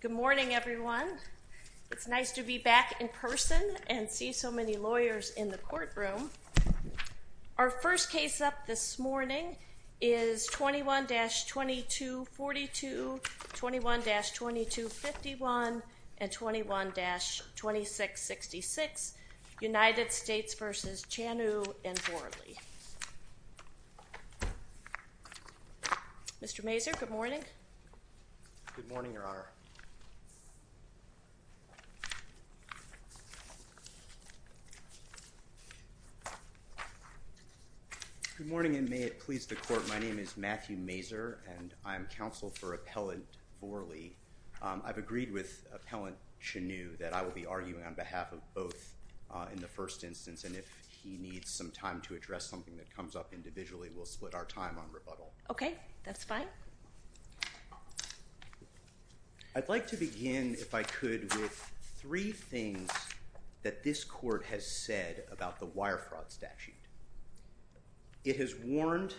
Good morning, everyone. It's nice to be back in person and see so many lawyers in the courtroom. Our first case up this morning is 21-2242, 21-2251, and 21-2666, United States v. Chanu and Vorley. Mr. Mazur, good morning. Good morning, Your Honor. Good morning, and may it please the Court. My name is Matthew Mazur, and I am counsel for Appellant Vorley. I've agreed with Appellant Chanu that I will be some time to address something that comes up individually. We'll split our time on rebuttal. Okay, that's fine. I'd like to begin, if I could, with three things that this Court has said about the Wire Fraud Statute. It has warned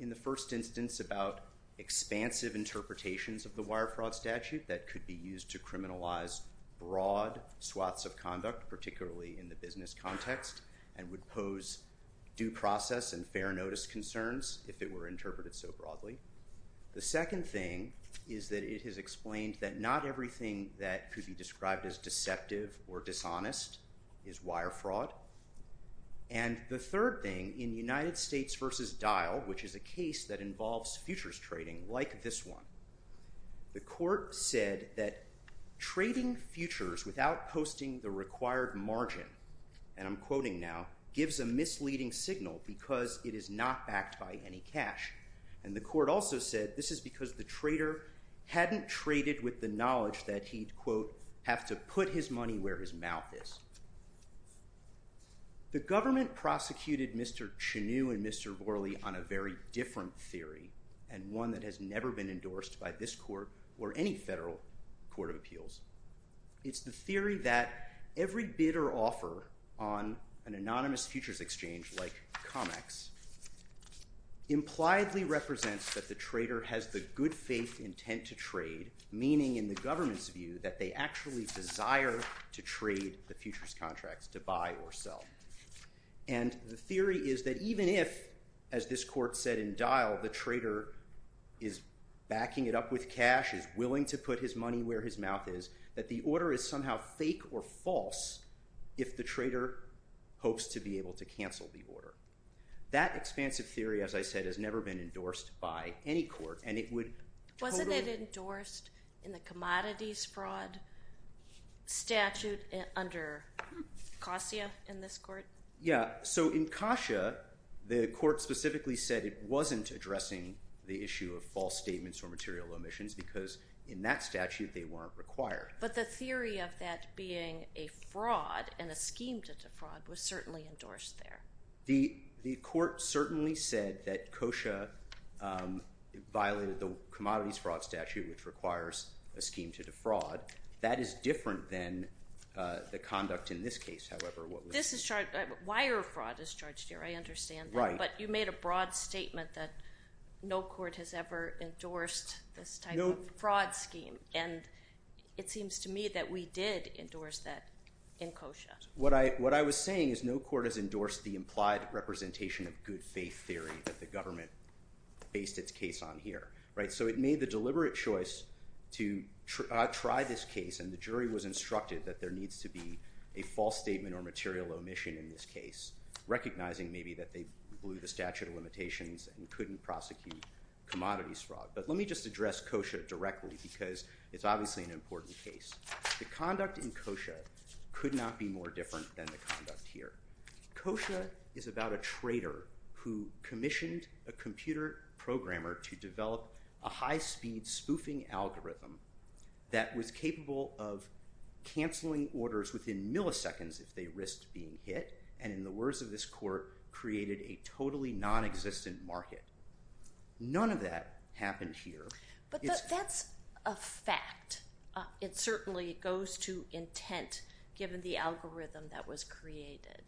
in the first instance about expansive interpretations of the Wire Fraud Statute that could be used to criminalize broad swaths of conduct, particularly in the business context, and would pose due process and fair notice concerns if it were interpreted so broadly. The second thing is that it has explained that not everything that could be described as deceptive or dishonest is wire fraud. And the third thing, in United States v. Dial, which is a case that involves futures trading like this one, the Court said that posting the required margin, and I'm quoting now, gives a misleading signal because it is not backed by any cash. And the Court also said this is because the trader hadn't traded with the knowledge that he'd, quote, have to put his money where his mouth is. The government prosecuted Mr. Chanu and Mr. Vorley on a very different theory, and one that has never been endorsed by this Court or any other. It's the theory that every bid or offer on an anonymous futures exchange, like COMEX, impliedly represents that the trader has the good faith intent to trade, meaning in the government's view that they actually desire to trade the futures contracts, to buy or sell. And the theory is that even if, as this Court said in Dial, the trader is backing it up with cash, is willing to put his money where his mouth is, that the order is somehow fake or false if the trader hopes to be able to cancel the order. That expansive theory, as I said, has never been endorsed by any court, and it would... Wasn't it endorsed in the commodities fraud statute under COSIA in this Court? Yeah, so in COSIA, the Court specifically said it wasn't addressing the issue of false statements or material omissions because in that statute they weren't required. But the theory of that being a fraud and a scheme to defraud was certainly endorsed there. The Court certainly said that COSIA violated the commodities fraud statute, which requires a scheme to defraud. That is different than the conduct in this case, however. This is charged... Wire fraud is charged here, I understand. Right. But you made a fraud scheme, and it seems to me that we did endorse that in COSIA. What I was saying is no court has endorsed the implied representation of good faith theory that the government based its case on here, right? So it made the deliberate choice to try this case, and the jury was instructed that there needs to be a false statement or material omission in this case, recognizing maybe that they blew the statute of limitations and couldn't prosecute commodities fraud. But let me just address COSIA directly because it's obviously an important case. The conduct in COSIA could not be more different than the conduct here. COSIA is about a trader who commissioned a computer programmer to develop a high-speed spoofing algorithm that was capable of canceling orders within milliseconds if they risked being hit, and in the words of this court, created a totally non-existent market. None of that happened here. But that's a fact. It certainly goes to intent, given the algorithm that was created.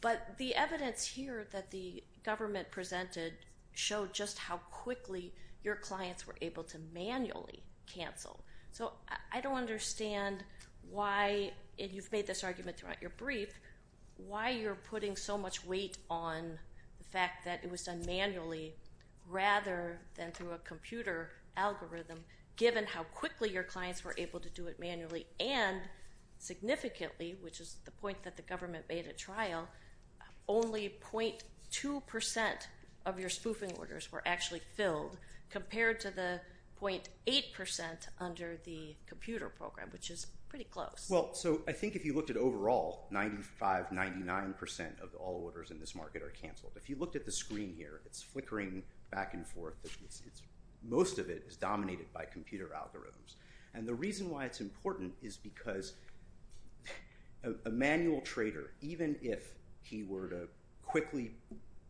But the evidence here that the government presented showed just how quickly your clients were able to manually cancel. So I don't understand why, and you've made this argument throughout your brief, why you're putting so much weight on the fact that it was done manually rather than through a computer algorithm, given how quickly your clients were able to do it manually and significantly, which is the point that the government made at trial, only 0.2% of your spoofing orders were actually filled, compared to the 0.8% under the computer program, which is pretty close. Well, so I think if you looked at overall, 95-99% of all orders in this market are canceled. If you looked at the screen here, it's flickering back and forth. Most of it is dominated by computer algorithms, and the reason why it's important is because a manual trader, even if he were to quickly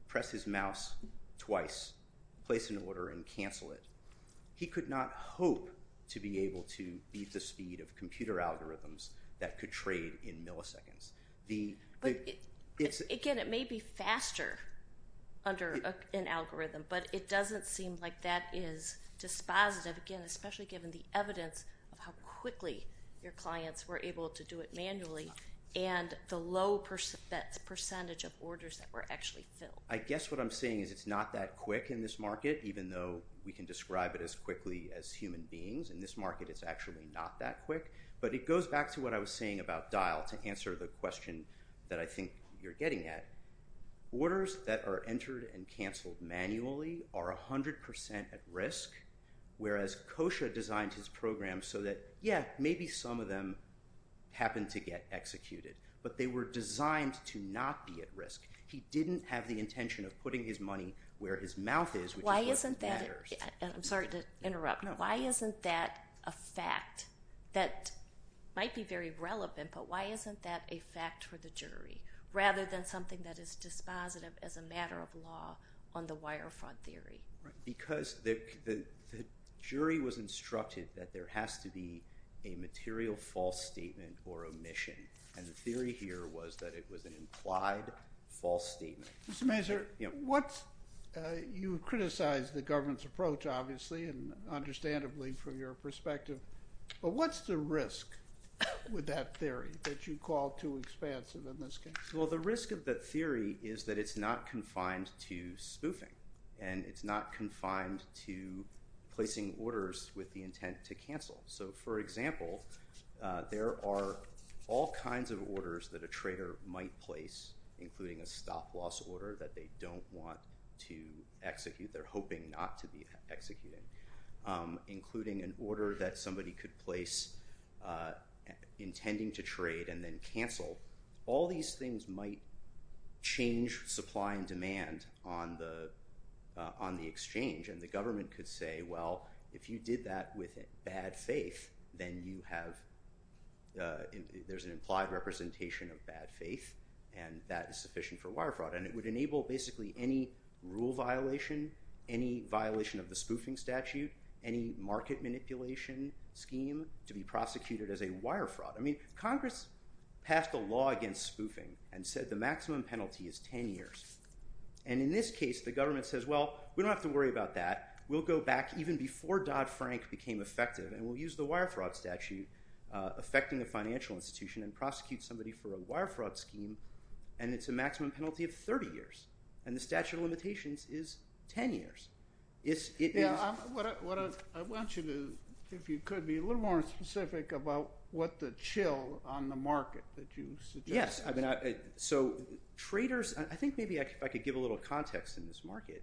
press his mouse twice, place an order, and cancel it, he could not hope to be able to beat the speed of computer algorithms that could trade in milliseconds. Again, it may be faster under an algorithm, but it doesn't seem like that is dispositive, again, especially given the evidence of how quickly your clients were able to do it manually, and the low percentage of orders that were actually filled. I guess what I'm saying is it's not that quick in this market, even though we can describe it as quickly as human beings. In this market, it's actually not that quick, but it goes back to what I was saying about Dial to answer the question that I think you're getting at. Orders that are entered and canceled manually are 100% at risk, whereas Kosha designed his program so that, yeah, maybe some of them happen to get executed, but they were designed to not be at risk. He didn't have the intention of putting his money where his mouth is, which is where it matters. I'm sorry to interrupt. Why isn't that a fact that might be very relevant, but why isn't that a fact for the jury, rather than something that is dispositive as a matter of law on the wire fraud theory? Because the jury was instructed that there has to be a material false statement or omission, and the theory here was that it was an implied false statement. Mr. Mazur, you criticize the government's approach, obviously, and understandably from your perspective, but what's the risk with that theory that you call too expansive in this case? Well, the risk of the theory is that it's not confined to spoofing, and it's not confined to placing orders with the intent to cancel. So, for example, there are all kinds of orders that a trader might place, including a stop-loss order that they don't want to execute, they're hoping not to be executing, including an order that somebody could place intending to trade and then cancel. All these things might change supply and demand on the exchange, and the government could say, well, if you did that with bad faith, then you have, there's an implied representation of bad faith, and that is sufficient for wire fraud, and it would enable basically any rule violation, any violation of the spoofing statute, any market manipulation scheme to be prosecuted as a wire fraud. I mean, Congress passed a law against spoofing and said the maximum penalty is 10 years, and in this case, the government says, well, we don't have to worry about that. We'll go back even before Dodd-Frank became effective, and we'll use the wire fraud statute affecting the financial institution and it's a maximum penalty of 30 years, and the statute of limitations is 10 years. I want you to, if you could, be a little more specific about what the chill on the market that you suggest. Yes, I mean, so traders, I think maybe I could give a little context in this market.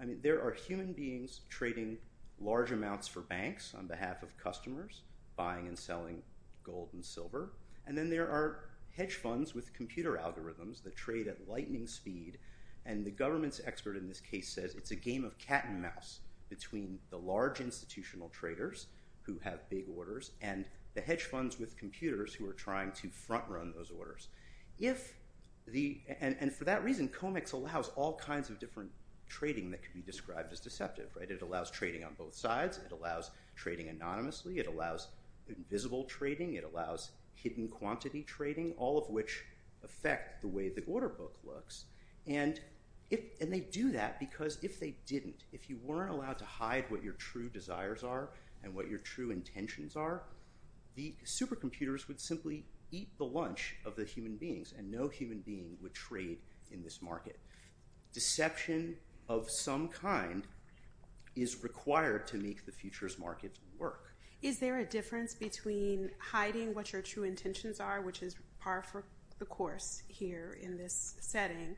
I mean, there are human beings trading large amounts for banks on behalf of customers, buying and selling gold and silver, and then there are hedge funds with computer algorithms that trade at lightning speed, and the government's expert in this case says it's a game of cat-and-mouse between the large institutional traders who have big orders and the hedge funds with computers who are trying to front-run those orders. And for that reason, COMEX allows all kinds of different trading that could be described as deceptive, right? It allows trading on both sides. It allows trading anonymously. It allows invisible trading. It allows hidden quantity trading, all of which affect the way the order book looks, and they do that because if they didn't, if you weren't allowed to hide what your true desires are and what your true intentions are, the supercomputers would simply eat the lunch of the human beings and no human being would trade in this market. Deception of some kind is required to make the futures markets work. Is there a difference between hiding what your true intentions are, which is par for the course here in this setting,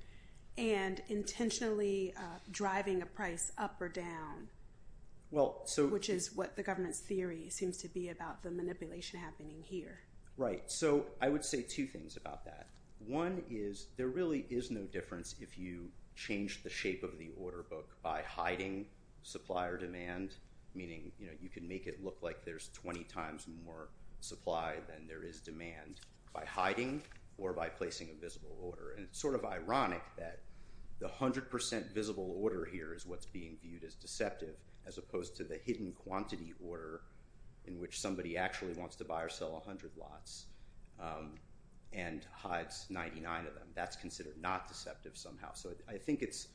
and intentionally driving a price up or down, which is what the government's theory seems to be about the manipulation happening here. Right, so I would say two things about that. One is there really is no difference if you change the shape of the order book by hiding supplier demand, meaning you can make it look like there's 20 times more supply than there is demand by hiding or by placing a visible order. And it's sort of ironic that the 100% visible order here is what's being viewed as deceptive, as opposed to the hidden quantity order in which somebody actually wants to buy or sell 100 lots and hides 99 of them. That's considered not deceptive somehow. So I think it's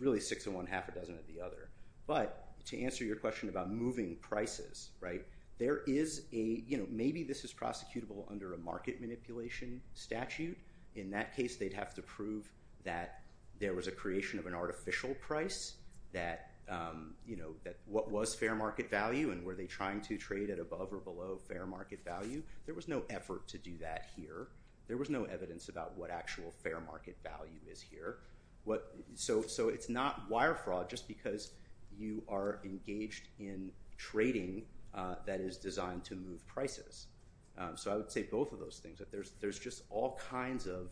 really six in one, half a dozen of the other. But to answer your question about moving prices, right, there is a, you know, maybe this is prosecutable under a market manipulation statute. In that case they'd have to prove that there was a creation of an artificial price, that, you know, that what was fair market value and were they trying to trade at above or below fair market value. There was no effort to do that here. There was no evidence about what actual fair market value is here. So it's not wire fraud just because you are engaged in trading that is designed to move prices. So I would say both of those things, that there's just all kinds of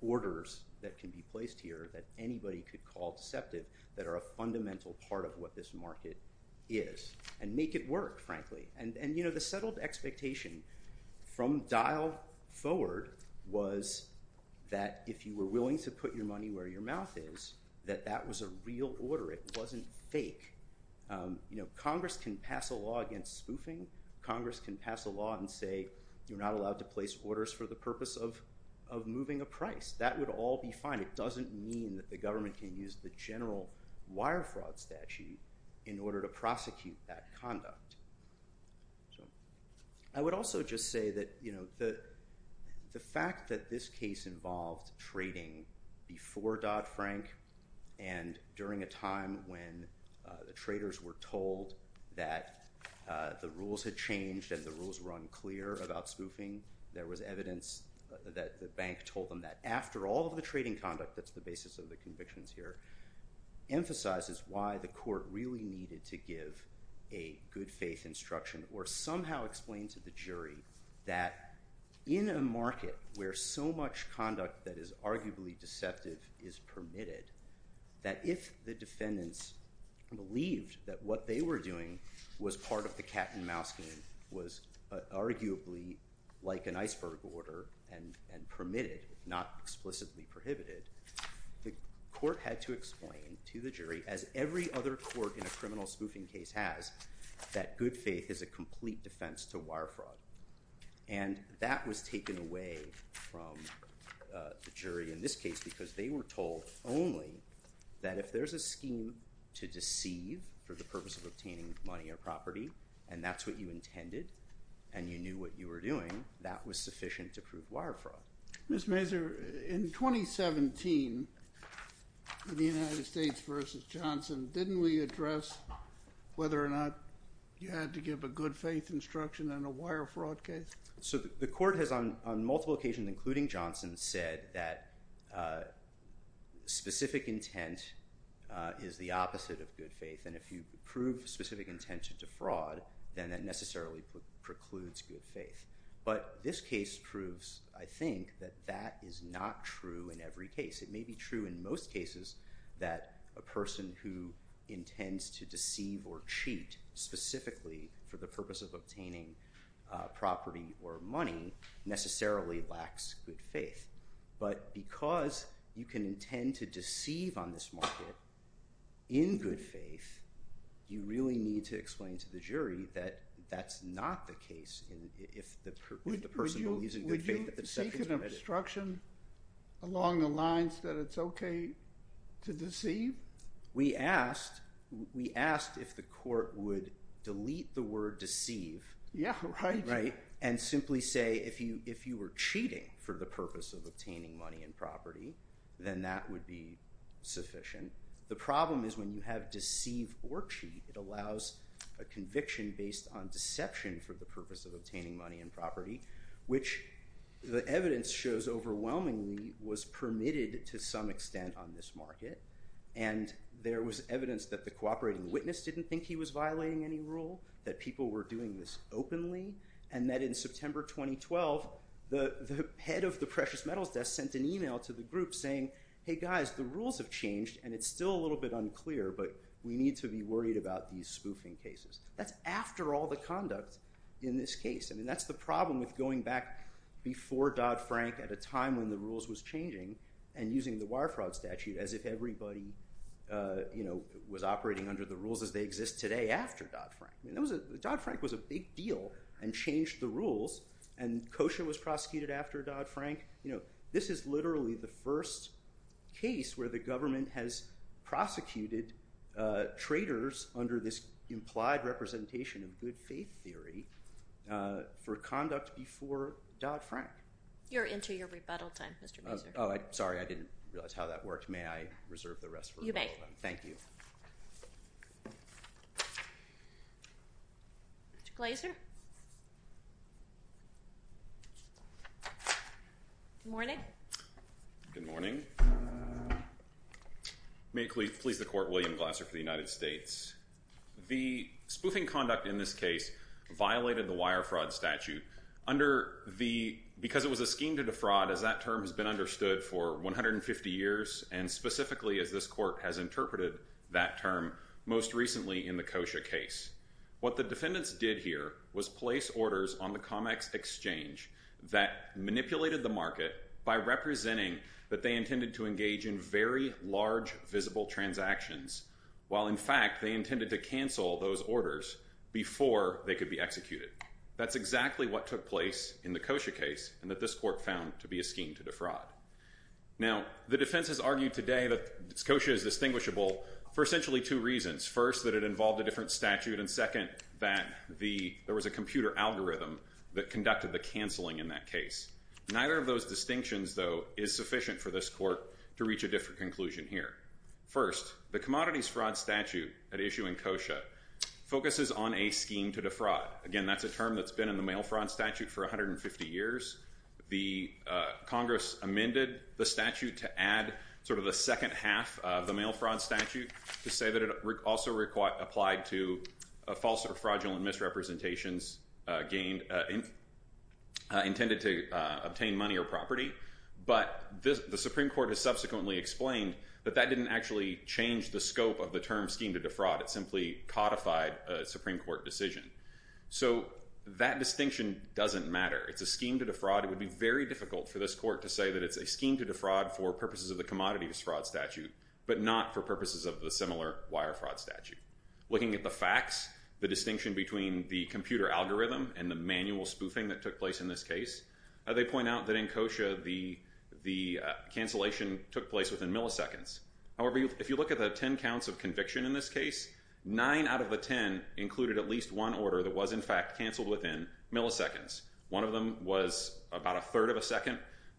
orders that can be placed here that anybody could call deceptive that are a fundamental part of what this market is and make it work, frankly. And, you know, the that if you were willing to put your money where your mouth is, that that was a real order. It wasn't fake. You know, Congress can pass a law against spoofing. Congress can pass a law and say you're not allowed to place orders for the purpose of moving a price. That would all be fine. It doesn't mean that the government can use the general wire fraud statute in order to prosecute that involved trading before Dodd-Frank and during a time when the traders were told that the rules had changed and the rules were unclear about spoofing, there was evidence that the bank told them that after all of the trading conduct, that's the basis of the convictions here, emphasizes why the court really needed to give a good-faith instruction or somehow explain to the jury that in a conduct that is arguably deceptive is permitted, that if the defendants believed that what they were doing was part of the cat-and-mouse game, was arguably like an iceberg order and permitted, not explicitly prohibited, the court had to explain to the jury, as every other court in a criminal spoofing case has, that good faith is a complete defense to wire fraud. And that was taken away from the jury in this case because they were told only that if there's a scheme to deceive for the purpose of obtaining money or property and that's what you intended and you knew what you were doing, that was sufficient to prove wire fraud. Ms. Mazur, in 2017, the United States v. Johnson, didn't we address whether or not you had to give a good-faith instruction in a wire fraud case? So the court has on multiple occasions, including Johnson, said that specific intent is the opposite of good faith and if you prove specific intent to defraud, then that necessarily precludes good faith. But this case proves, I think, that that is not true in every case. It may be true in most cases that a person who intends to deceive or cheat specifically for the purpose of property or money necessarily lacks good faith. But because you can intend to deceive on this market in good faith, you really need to explain to the jury that that's not the case if the person believes in good faith. Would you seek an obstruction along the lines that it's okay to deceive? We asked if the simply say if you were cheating for the purpose of obtaining money and property, then that would be sufficient. The problem is when you have deceive or cheat, it allows a conviction based on deception for the purpose of obtaining money and property, which the evidence shows overwhelmingly was permitted to some extent on this market. And there was evidence that the cooperating witness didn't think he was violating any rule, that people were doing this openly, and that in September 2012, the head of the Precious Metals Desk sent an email to the group saying, hey guys, the rules have changed and it's still a little bit unclear, but we need to be worried about these spoofing cases. That's after all the conduct in this case. I mean, that's the problem with going back before Dodd- Frank at a time when the rules was changing and using the wire fraud statute as if everybody, you know, was operating under the rules as they exist today after Dodd-Frank. Dodd-Frank was a big deal and changed the rules and Kosher was prosecuted after Dodd-Frank. You know, this is literally the first case where the government has prosecuted traitors under this implied representation of good faith theory for conduct before Dodd-Frank. You're into your rebuttal time, Mr. Mazur. Oh, sorry, I didn't realize how that worked. May I introduce Mr. Glazer? Good morning. Good morning. May it please the Court, William Glaser for the United States. The spoofing conduct in this case violated the wire fraud statute under the, because it was a scheme to defraud, as that term has been understood for 150 years and specifically as this court has found to be a scheme to defraud. Now, the defense has argued today that Kosher is distinguishable for essentially two reasons. First, that it involved a different statute and second, that there was a computer algorithm that conducted the canceling in that case. Neither of those distinctions, though, is sufficient for this court to reach a different conclusion here. First, the commodities fraud statute at issue in Kosher focuses on a scheme to defraud. Again, that's a term that's been in the mail fraud statute for 150 years. The Congress amended the statute to add sort of the second half of the mail fraud statute to say that it also applied to false or fraudulent misrepresentations gained, intended to obtain money or property, but the Supreme Court has subsequently explained that that didn't actually change the scope of the term scheme to defraud. It simply codified a Supreme Court decision. So that distinction doesn't matter. It's a scheme to defraud. It would be very difficult for this court to say that it's a scheme to defraud for purposes of the commodities fraud statute, but not for purposes of the similar wire fraud statute. Looking at the facts, the distinction between the computer algorithm and the manual spoofing that took place in this case, they point out that in Kosher the cancellation took place within milliseconds. However, if you look at the ten counts of conviction in this case, nine out of the ten included at least one order that was in fact canceled within milliseconds. One of them was about a third of a second.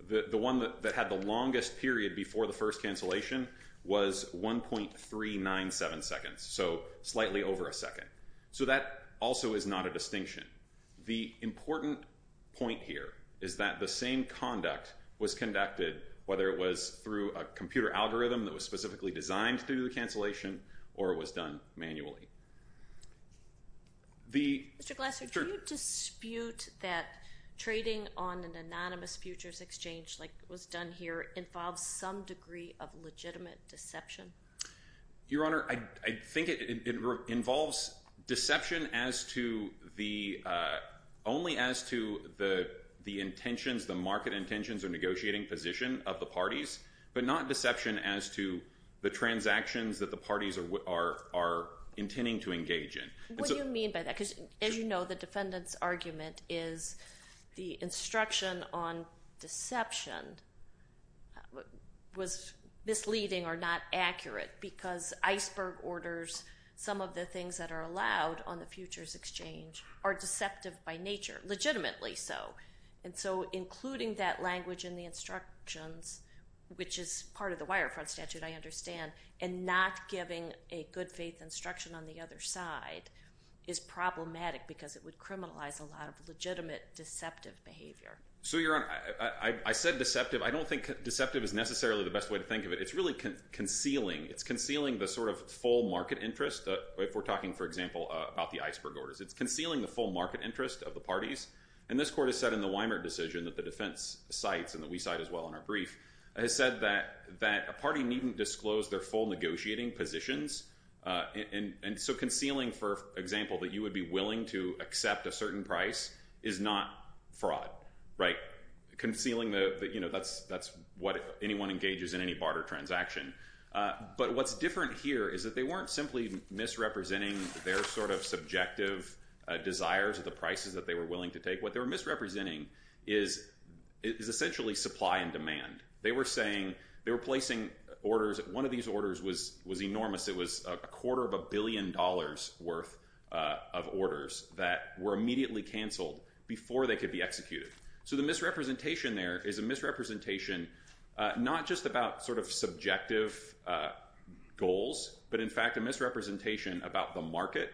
The one that had the longest period before the first cancellation was 1.397 seconds, so slightly over a second. So that also is not a distinction. The important point here is that the same conduct was conducted whether it was through a computer algorithm that was specifically designed to do the cancellation or it was done manually. Mr. Glasser, do you dispute that trading on an anonymous futures exchange like was done here involves some degree of legitimate deception? Your Honor, I think it involves deception only as to the intentions, the market intentions or negotiating position of the parties, but not deception as to the transactions that the parties are intending to engage in. What do you mean by that? Because as you know, the defendant's argument is the instruction on deception was misleading or not accurate because iceberg orders, some of the things that are allowed on the futures exchange, are deceptive by nature, legitimately so. And so including that language in the instructions, which is part of the wire front statute I understand, and not giving a good-faith instruction on the other side is problematic because it would criminalize a lot of legitimate deceptive behavior. So Your Honor, I said deceptive. I don't think deceptive is necessarily the best way to think of it. It's really concealing. It's concealing the sort of full market interest. If we're talking, for example, about the iceberg orders, it's concealing the full market interest of the parties. And this court has said in the Weimer decision that the defense cites, and that we cite as well in our brief, has said that a party needn't disclose their full negotiating positions. And so concealing, for example, that you would be willing to accept a certain price is not fraud, right? Concealing the, you know, that's what anyone engages in any barter transaction. But what's different here is that they weren't simply misrepresenting their sort of subjective desires of the prices that they were willing to take. What they were misrepresenting is essentially supply and demand. They were saying, they were placing orders, one of these orders was a number of orders that were immediately canceled before they could be executed. So the misrepresentation there is a misrepresentation not just about sort of subjective goals, but in fact a misrepresentation about the market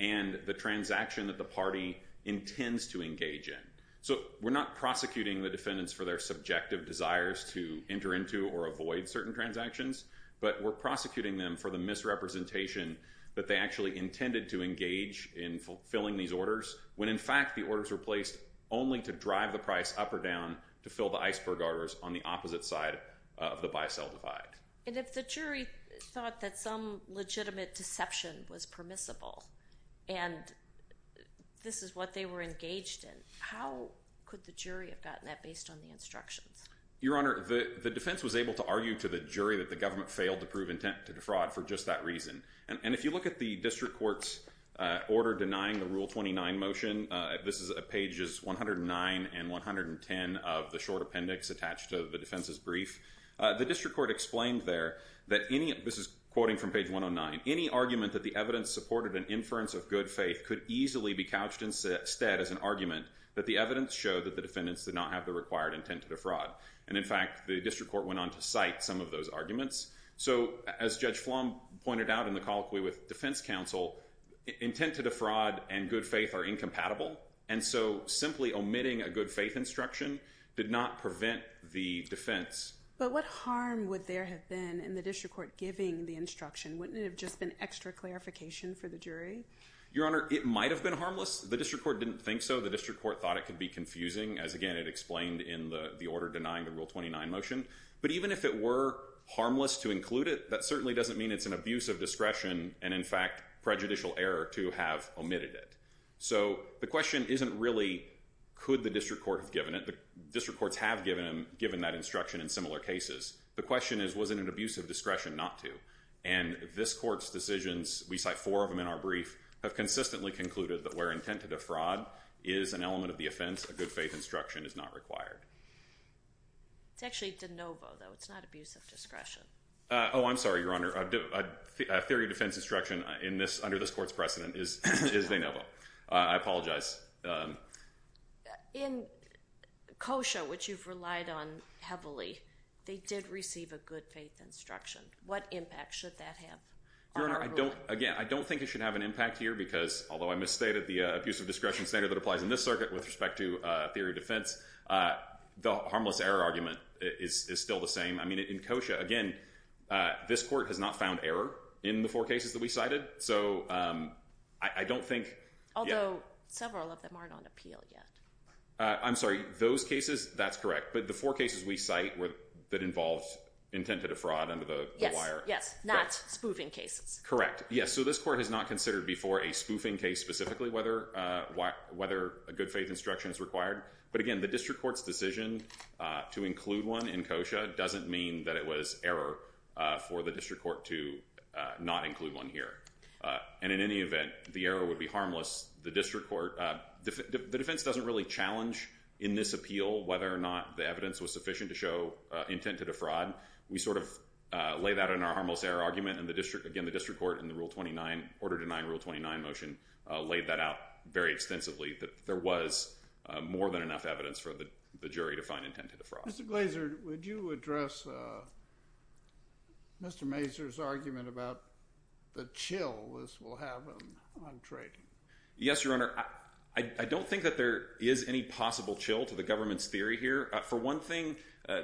and the transaction that the party intends to engage in. So we're not prosecuting the defendants for their subjective desires to enter into or avoid certain transactions, but we're prosecuting them for the misrepresentation that they actually intended to engage in fulfilling these orders, when in fact the orders were placed only to drive the price up or down to fill the iceberg orders on the opposite side of the buy-sell divide. And if the jury thought that some legitimate deception was permissible, and this is what they were engaged in, how could the jury have gotten that based on the instructions? Your Honor, the defense was able to argue to the jury that the government failed to prove intent to defraud for just that reason. And if you look at the district court's order denying the Rule 29 motion, this is pages 109 and 110 of the short appendix attached to the defense's brief, the district court explained there that any, this is quoting from page 109, any argument that the evidence supported an inference of good faith could easily be couched instead as an argument that the evidence showed that the defendants did not have the required intent to defraud. And in fact, the district court went on to cite some of those arguments. So as Judge Flom pointed out in the colloquy with defense counsel, intent to defraud and good faith are incompatible, and so simply omitting a good faith instruction did not prevent the defense. But what harm would there have been in the district court giving the instruction? Wouldn't it have just been extra clarification for the jury? Your Honor, it might have been harmless. The district court didn't think so. The district court thought it could be confusing, as again it explained in the order denying the Rule 29 motion. But even if it were harmless to include it, that certainly doesn't mean it's an abuse of discretion and in fact prejudicial error to have omitted it. So the question isn't really, could the district court have given it? The district courts have given that instruction in similar cases. The question is, was it an abuse of discretion not to? And this court's decisions, we cite four of them in our brief, have consistently concluded that where intent to defraud is an element of the offense, a good faith instruction is not required. It's actually de novo, though. It's not abuse of discretion. Oh, I'm sorry, Your Honor. A theory of defense instruction under this court's precedent is de novo. I apologize. In COSHA, which you've relied on heavily, they did receive a good faith instruction. What impact should that have on our ruling? Again, I don't think it should have an impact here, because although I misstated the abuse of discretion standard that applies in this circuit with respect to theory of defense, the harmless error argument is still the same. I mean, in COSHA, again, this court has not found error in the four cases that we cited. So I don't think... Although several of them aren't on appeal yet. I'm sorry, those cases, that's correct. But the four cases we cite that involved intent to defraud under the wire. Yes, yes. Not spoofing cases. Correct. Yes. So this court has not considered before a spoofing case specifically, whether a good faith instruction is required. But again, the district court's decision to include one in COSHA doesn't mean that it was error for the district court to not include one here. And in any event, the error would be harmless. The district court... The defense doesn't really challenge in this appeal whether or not the evidence was sufficient to show intent to defraud. We sort of laid that in our harmless error argument, and the district... Again, the district court in the Rule 29, order-denying Rule 29 motion laid that out very extensively. There was more than enough evidence for the jury to find intent to defraud. Mr. Glaser, would you address Mr. Mazur's argument about the chill this will have on trading? Yes, Your Honor. I don't think that there is any possible chill to the government's theory here. For one thing,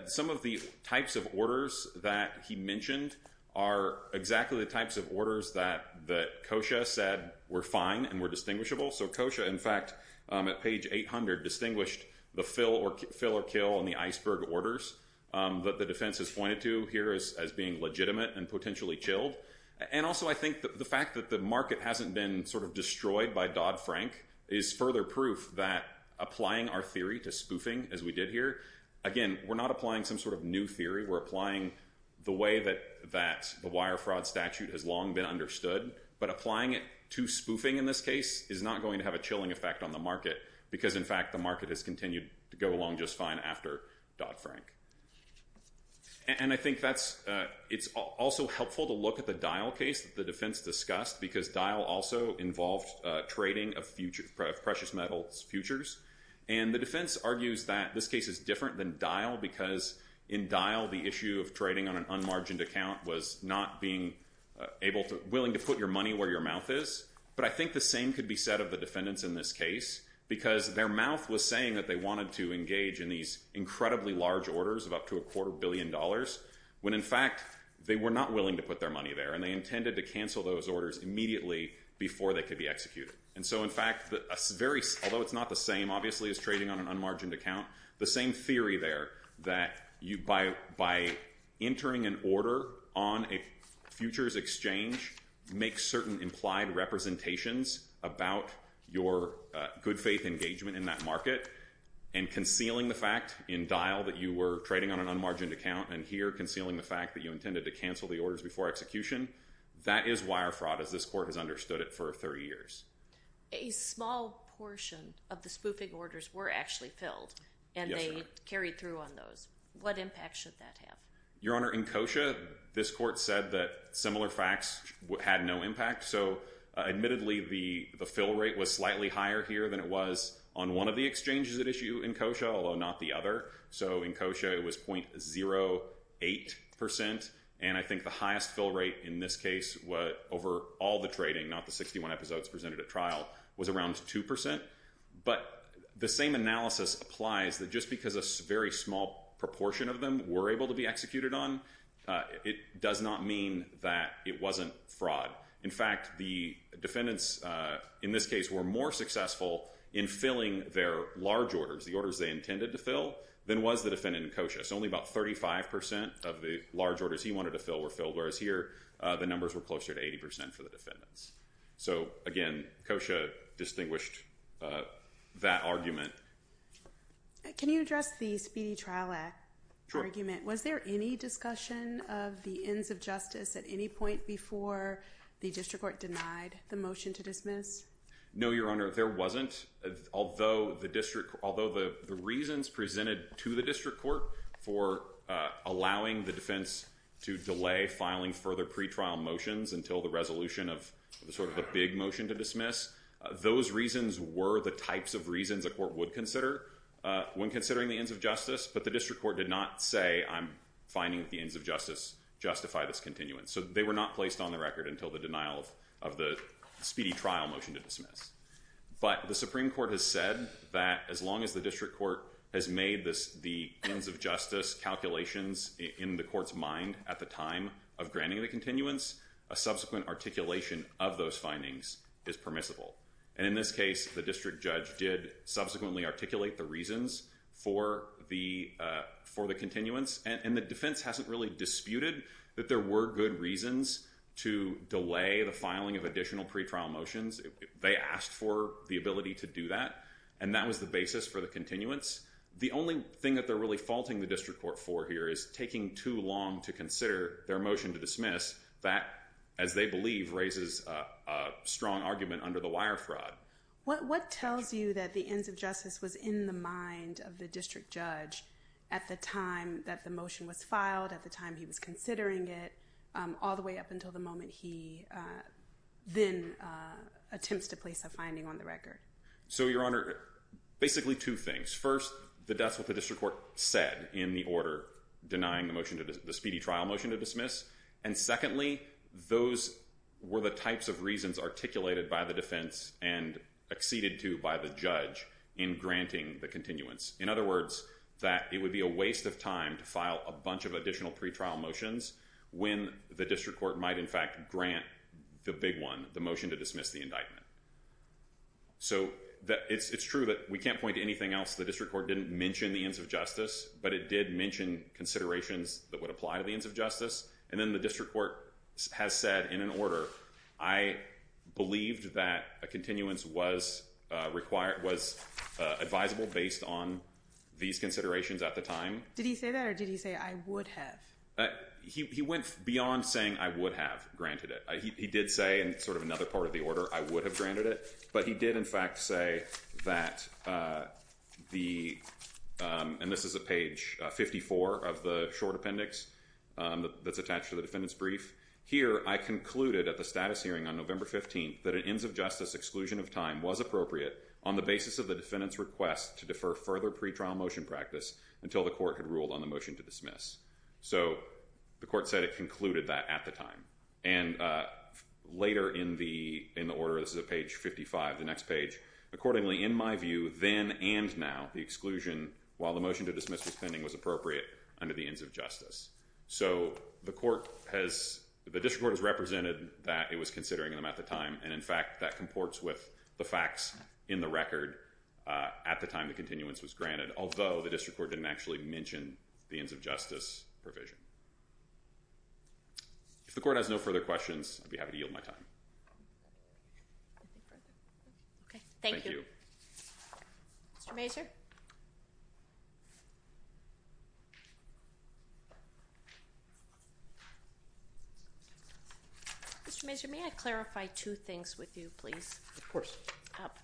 some of the types of orders that he mentioned are exactly the types of orders that COSHA said were fine and were distinguishable. So COSHA, in fact, at page 800, distinguished the fill or kill and the iceberg orders that the defense has pointed to here as being legitimate and potentially chilled. And also, I think the fact that the market hasn't been sort of destroyed by Dodd-Frank is further proof that applying our theory to spoofing, as we did here... Again, we're not applying some sort of new theory. We're applying the way that the wire fraud statute has long been understood. But applying it to spoofing, in this case, is not going to have a chilling effect on the market because, in fact, the market has continued to go along just fine after Dodd-Frank. And I think it's also helpful to look at the Dial case that the defense discussed because Dial also involved trading of precious metals futures. And the defense argues that this case is different than Dial because in Dial, the issue of trading on an unmargined account was not being able to... willing to put your money where your mouth is. But I think the same could be said of the defendants in this case because their mouth was saying that they wanted to engage in these incredibly large orders of up to a quarter billion dollars when, in fact, they were not willing to put their money there, and they intended to cancel those orders immediately before they could be executed. And so, in fact, although it's not the same, obviously, as trading on an unmargined account, the same theory there that by entering an order on a futures exchange makes certain implied representations about your good faith engagement in that market, and concealing the fact in Dial that you were trading on an unmargined account, and here concealing the fact that you intended to cancel the orders before execution, that is wire fraud as this court has understood it for 30 years. A small portion of the spoofing orders were actually filled, and they carried through on those. What impact should that have? Your Honor, in Kosha, this court said that similar facts had no impact. So, admittedly, the fill rate was slightly higher here than it was on one of the exchanges at issue in Kosha, although not the other. So, in Kosha, it was 0.08%. And I think the highest fill rate in this case was over all the trading, not the 61 episodes presented at trial, was around 2%. But the same analysis applies that just because a very small proportion of them were able to be executed on, it does not mean that it wasn't fraud. In fact, the defendants in this case were more successful in filling their large orders, the orders they intended to fill, than was the defendant in Kosha. So, only about 35% of the large orders he wanted to fill were filled, whereas here, the numbers were closer to 80% for the defendants. So, again, Kosha distinguished that argument. Can you address the Speedy Trial Act argument? Was there any discussion of the ends of justice at any point before the district court denied the motion to dismiss? No, Your Honor, there wasn't. Although the reasons presented to the district court for allowing the defense to delay filing further pretrial motions until the resolution of the big motion to dismiss, those reasons were the types of reasons a court would consider when considering the ends of justice. But the district court did not say, I'm finding that the ends of justice justify this continuance. So they were not placed on the record until the denial of the speedy trial motion to dismiss. But the Supreme Court has said that as long as the district court has made the ends of justice calculations in the court's mind at the time of granting the continuance, a subsequent articulation of those findings is permissible. And in this case, the district judge did subsequently articulate the reasons for the continuance. And the defense hasn't really disputed that there were good reasons to delay the filing of additional pretrial motions. They asked for the ability to do that. And that was the basis for the continuance. The only thing that they're really faulting the district court for here is taking too long to consider their motion to dismiss. That, as they believe, raises a strong argument under the wire fraud. What tells you that the ends of justice was in the mind of the district judge at the time that the motion was filed, at the time he was considering it, all the way up until the moment he then attempts to place a finding on the record? So, Your Honor, basically two things. First, the deaths with the district court said in the order denying the speedy trial motion to dismiss. And secondly, those were the types of reasons articulated by the defense and acceded to by the judge in granting the continuance. In other words, that it would be a waste of time to file a bunch of additional pretrial motions when the district court might, in fact, grant the big one, the motion to dismiss the indictment. So, it's true that we can't point to anything else. The district court didn't mention the ends of justice, but it did mention considerations that would apply to the ends of justice. And then the district court has said in an order, I believed that a continuance was advisable based on these considerations at the time. Did he say that, or did he say, I would have? He went beyond saying, I would have granted it. He did say, in sort of another part of the order, I would have granted it. But he did, in fact, say that the, and this is a page 54 of the short appendix that's attached to the defendant's brief. Here, I concluded at the status hearing on November 15th that an ends of justice exclusion of time was appropriate on the basis of the defendant's request to defer further pretrial motion practice until the court had ruled on the motion to dismiss. So, the court said it concluded that at the time. And later in the order, this is at page 55, the next page. Accordingly, in my view, then and now, the exclusion while the motion to dismiss was pending was appropriate under the ends of justice. So, the court has, the district court has represented that it was considering them at the time. And in fact, that comports with the facts in the record at the time the continuance was granted, although the district court didn't actually mention the ends of justice provision. If the court has no further questions, I'd be happy to yield my time. Okay, thank you. Thank you. Mr. Mazur. Mr. Mazur, may I clarify two things with you, please? Of course.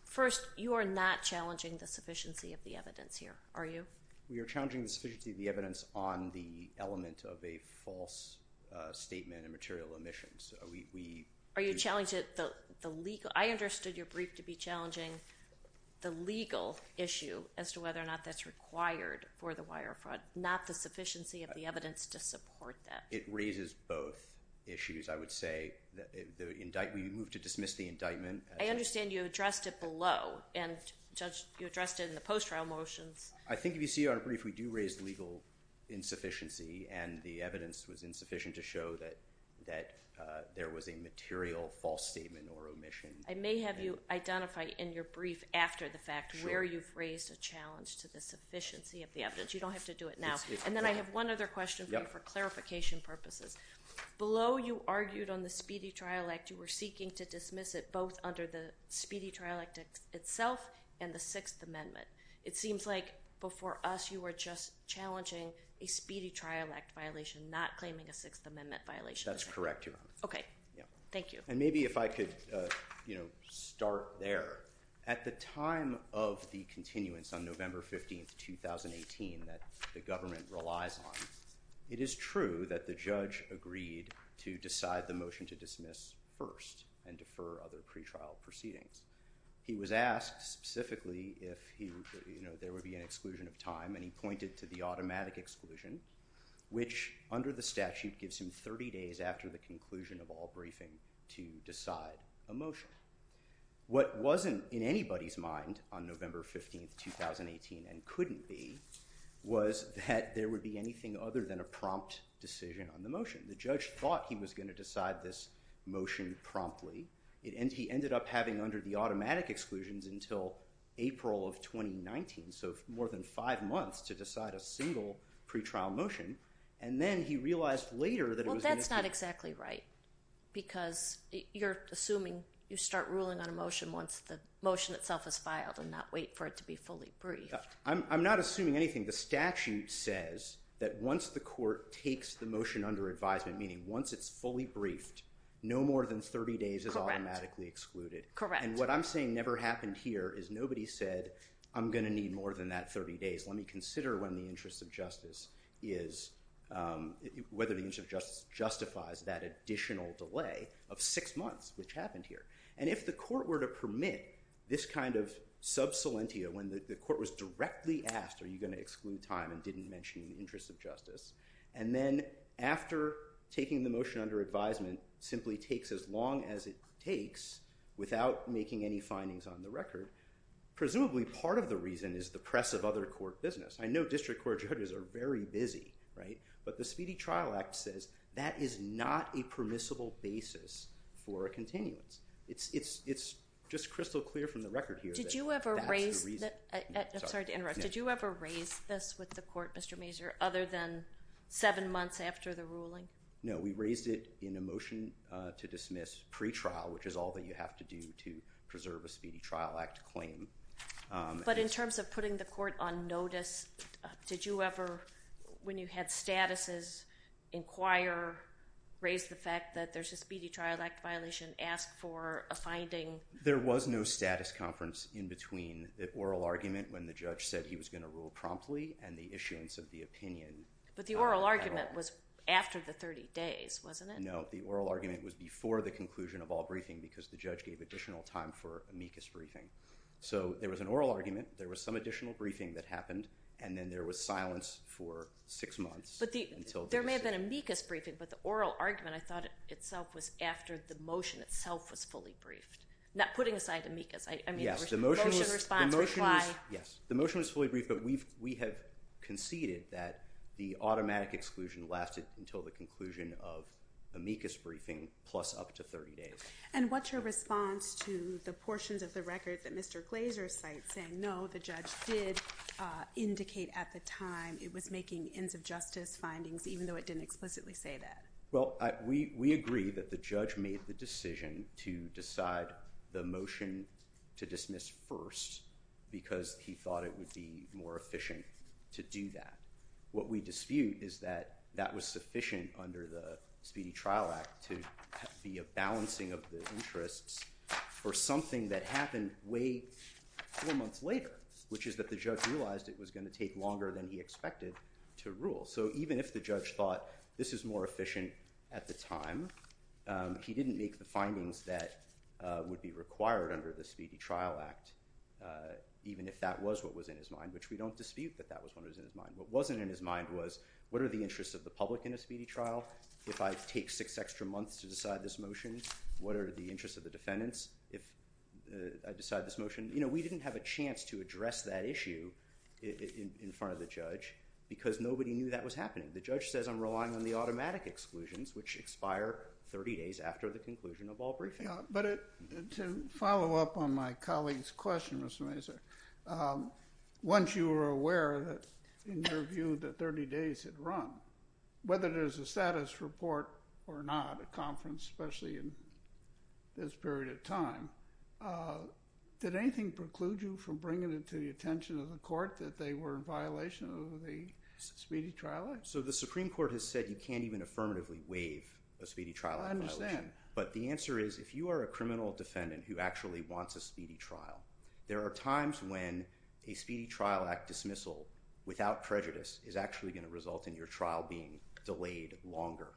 First, you are not challenging the sufficiency of the evidence here, are you? We are challenging the sufficiency of the evidence on the element of the evidence. Of a false statement and material omissions, we- Are you challenging the legal? I understood your brief to be challenging the legal issue as to whether or not that's required for the wire fraud, not the sufficiency of the evidence to support that. It raises both issues. I would say that we move to dismiss the indictment. I understand you addressed it below and you addressed it in the post-trial motions. I think if you see our brief, we do raise legal insufficiency and the evidence was insufficient to show that there was a material false statement or omission. I may have you identify in your brief after the fact where you've raised a challenge to the sufficiency of the evidence. You don't have to do it now. And then I have one other question for you for clarification purposes. Below, you argued on the Speedy Trial Act, you were seeking to dismiss it both under the Speedy Trial Act itself and the Sixth Amendment. It seems like before us, you were just challenging a Speedy Trial Act violation, not claiming a Sixth Amendment violation. That's correct, Your Honor. Okay, thank you. And maybe if I could start there. At the time of the continuance on November 15th, 2018 that the government relies on, it is true that the judge agreed to decide the motion to dismiss first and defer other pretrial proceedings. He was asked specifically if there would be an exclusion of time and he pointed to the automatic exclusion, which under the statute gives him 30 days after the conclusion of all briefing to decide a motion. What wasn't in anybody's mind on November 15th, 2018 and couldn't be, was that there would be anything other than a prompt decision on the motion. The judge thought he was gonna decide this motion promptly. He ended up having under the automatic exclusions until April of 2019. So more than five months to decide a single pretrial motion and then he realized later that it was gonna be- Well, that's not exactly right because you're assuming you start ruling on a motion once the motion itself is filed and not wait for it to be fully briefed. I'm not assuming anything. The statute says that once the court takes the motion under advisement, meaning once it's fully briefed, no more than 30 days is automatically excluded. Correct. And what I'm saying never happened here is nobody said, I'm gonna need more than that 30 days. Let me consider when the interest of justice is, whether the interest of justice justifies that additional delay of six months, which happened here. And if the court were to permit this kind of sub salientia when the court was directly asked, are you gonna exclude time and didn't mention the interest of justice? And then after taking the motion under advisement simply takes as long as it takes without making any findings on the record. Presumably part of the reason is the press of other court business. I know district court judges are very busy, right? But the Speedy Trial Act says that is not a permissible basis for a continuance. It's just crystal clear from the record here. Did you ever raise that? I'm sorry to interrupt. Did you ever raise this with the court, Mr. Mazur, other than seven months after the ruling? No, we raised it in a motion to dismiss pre-trial, which is all that you have to do to preserve a Speedy Trial Act claim. But in terms of putting the court on notice, did you ever, when you had statuses, inquire, raise the fact that there's a Speedy Trial Act violation, ask for a finding? There was no status conference in between the oral argument when the judge said he was gonna rule promptly and the issuance of the opinion. But the oral argument was after the 30 days, wasn't it? No, the oral argument was before the conclusion of all briefing because the judge gave additional time for amicus briefing. So there was an oral argument, there was some additional briefing that happened, and then there was silence for six months. But there may have been amicus briefing, but the oral argument I thought itself was after the motion itself was fully briefed, not putting aside amicus. I mean, the motion response was why. Yes, the motion was fully briefed, but we have conceded that the automatic exclusion lasted until the conclusion of amicus briefing plus up to 30 days. And what's your response to the portions of the record that Mr. Glazer cites saying no, the judge did indicate at the time it was making ends of justice findings even though it didn't explicitly say that? Well, we agree that the judge made the decision to decide the motion to dismiss first because he thought it would be more efficient to do that. What we dispute is that that was sufficient under the Speedy Trial Act to be a balancing of the interests for something that happened way four months later, which is that the judge realized it was gonna take longer than he expected to rule. So even if the judge thought this is more efficient at the time, he didn't make the findings that would be required under the Speedy Trial Act even if that was what was in his mind, which we don't dispute that that was what was in his mind. What wasn't in his mind was what are the interests of the public in a speedy trial? If I take six extra months to decide this motion, what are the interests of the defendants if I decide this motion? We didn't have a chance to address that issue in front of the judge because nobody knew that was happening. The judge says I'm relying on the automatic exclusions which expire 30 days after the conclusion of all briefing. But to follow up on my colleague's question, Mr. Glazer, once you were aware that in your view that 30 days had run, whether there's a status report or not, a conference, especially in this period of time, did anything preclude you from bringing it to the attention of the court that they were in violation of the Speedy Trial Act? So the Supreme Court has said you can't even affirmatively waive a Speedy Trial Act violation. I understand. But the answer is if you are a criminal defendant who actually wants a speedy trial, there are times when a Speedy Trial Act dismissal without prejudice is actually going to result in your trial being delayed longer.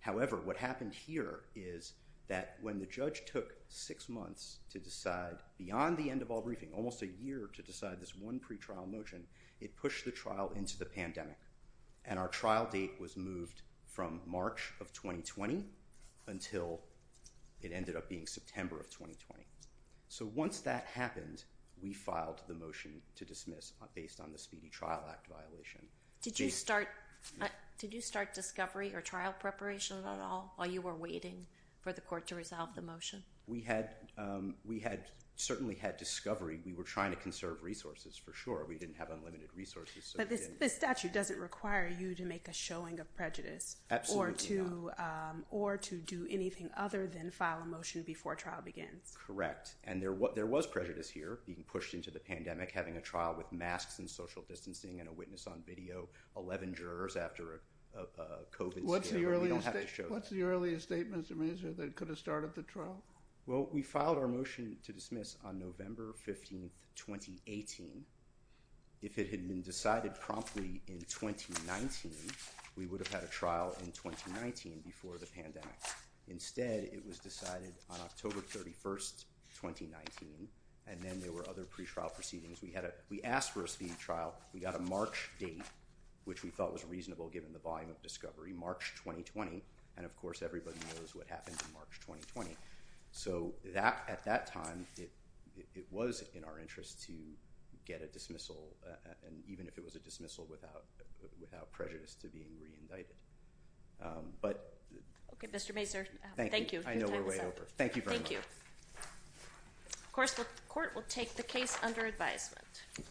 However, what happened here is that when the judge took six months to decide beyond the end of all briefing, almost a year to decide this one pretrial motion, it pushed the trial into the pandemic. And our trial date was moved from March of 2020 until it ended up being September of 2020. So once that happened, we filed the motion to dismiss based on the Speedy Trial Act violation. Did you start discovery or trial preparation at all while you were waiting for the court to resolve the motion? We had certainly had discovery. We were trying to conserve resources for sure. We didn't have unlimited resources. But this statute doesn't require you to make a showing of prejudice. Absolutely not. Or to do anything other than file a motion before trial begins. Correct. And there was prejudice here being pushed into the pandemic, having a trial with masks and social distancing and a witness on video, 11 jurors after a COVID scandal. We don't have to show that. What's the earliest statement, Mr. Mazur, that could have started the trial? Well, we filed our motion to dismiss on November 15th, 2018. If it had been decided promptly in 2019, we would have had a trial in 2019 before the pandemic. Instead, it was decided on October 31st, 2019. And then there were other pre-trial proceedings. We asked for a speedy trial. We got a March date, which we thought was reasonable given the volume of discovery, March 2020. And of course, everybody knows what happened in March 2020. So at that time, it was in our interest to get a dismissal, and even if it was a dismissal without prejudice to being re-indicted. But- Okay, Mr. Mazur, thank you. I know we're way over. Thank you very much. Thank you. Of course, the court will take the case under advisement.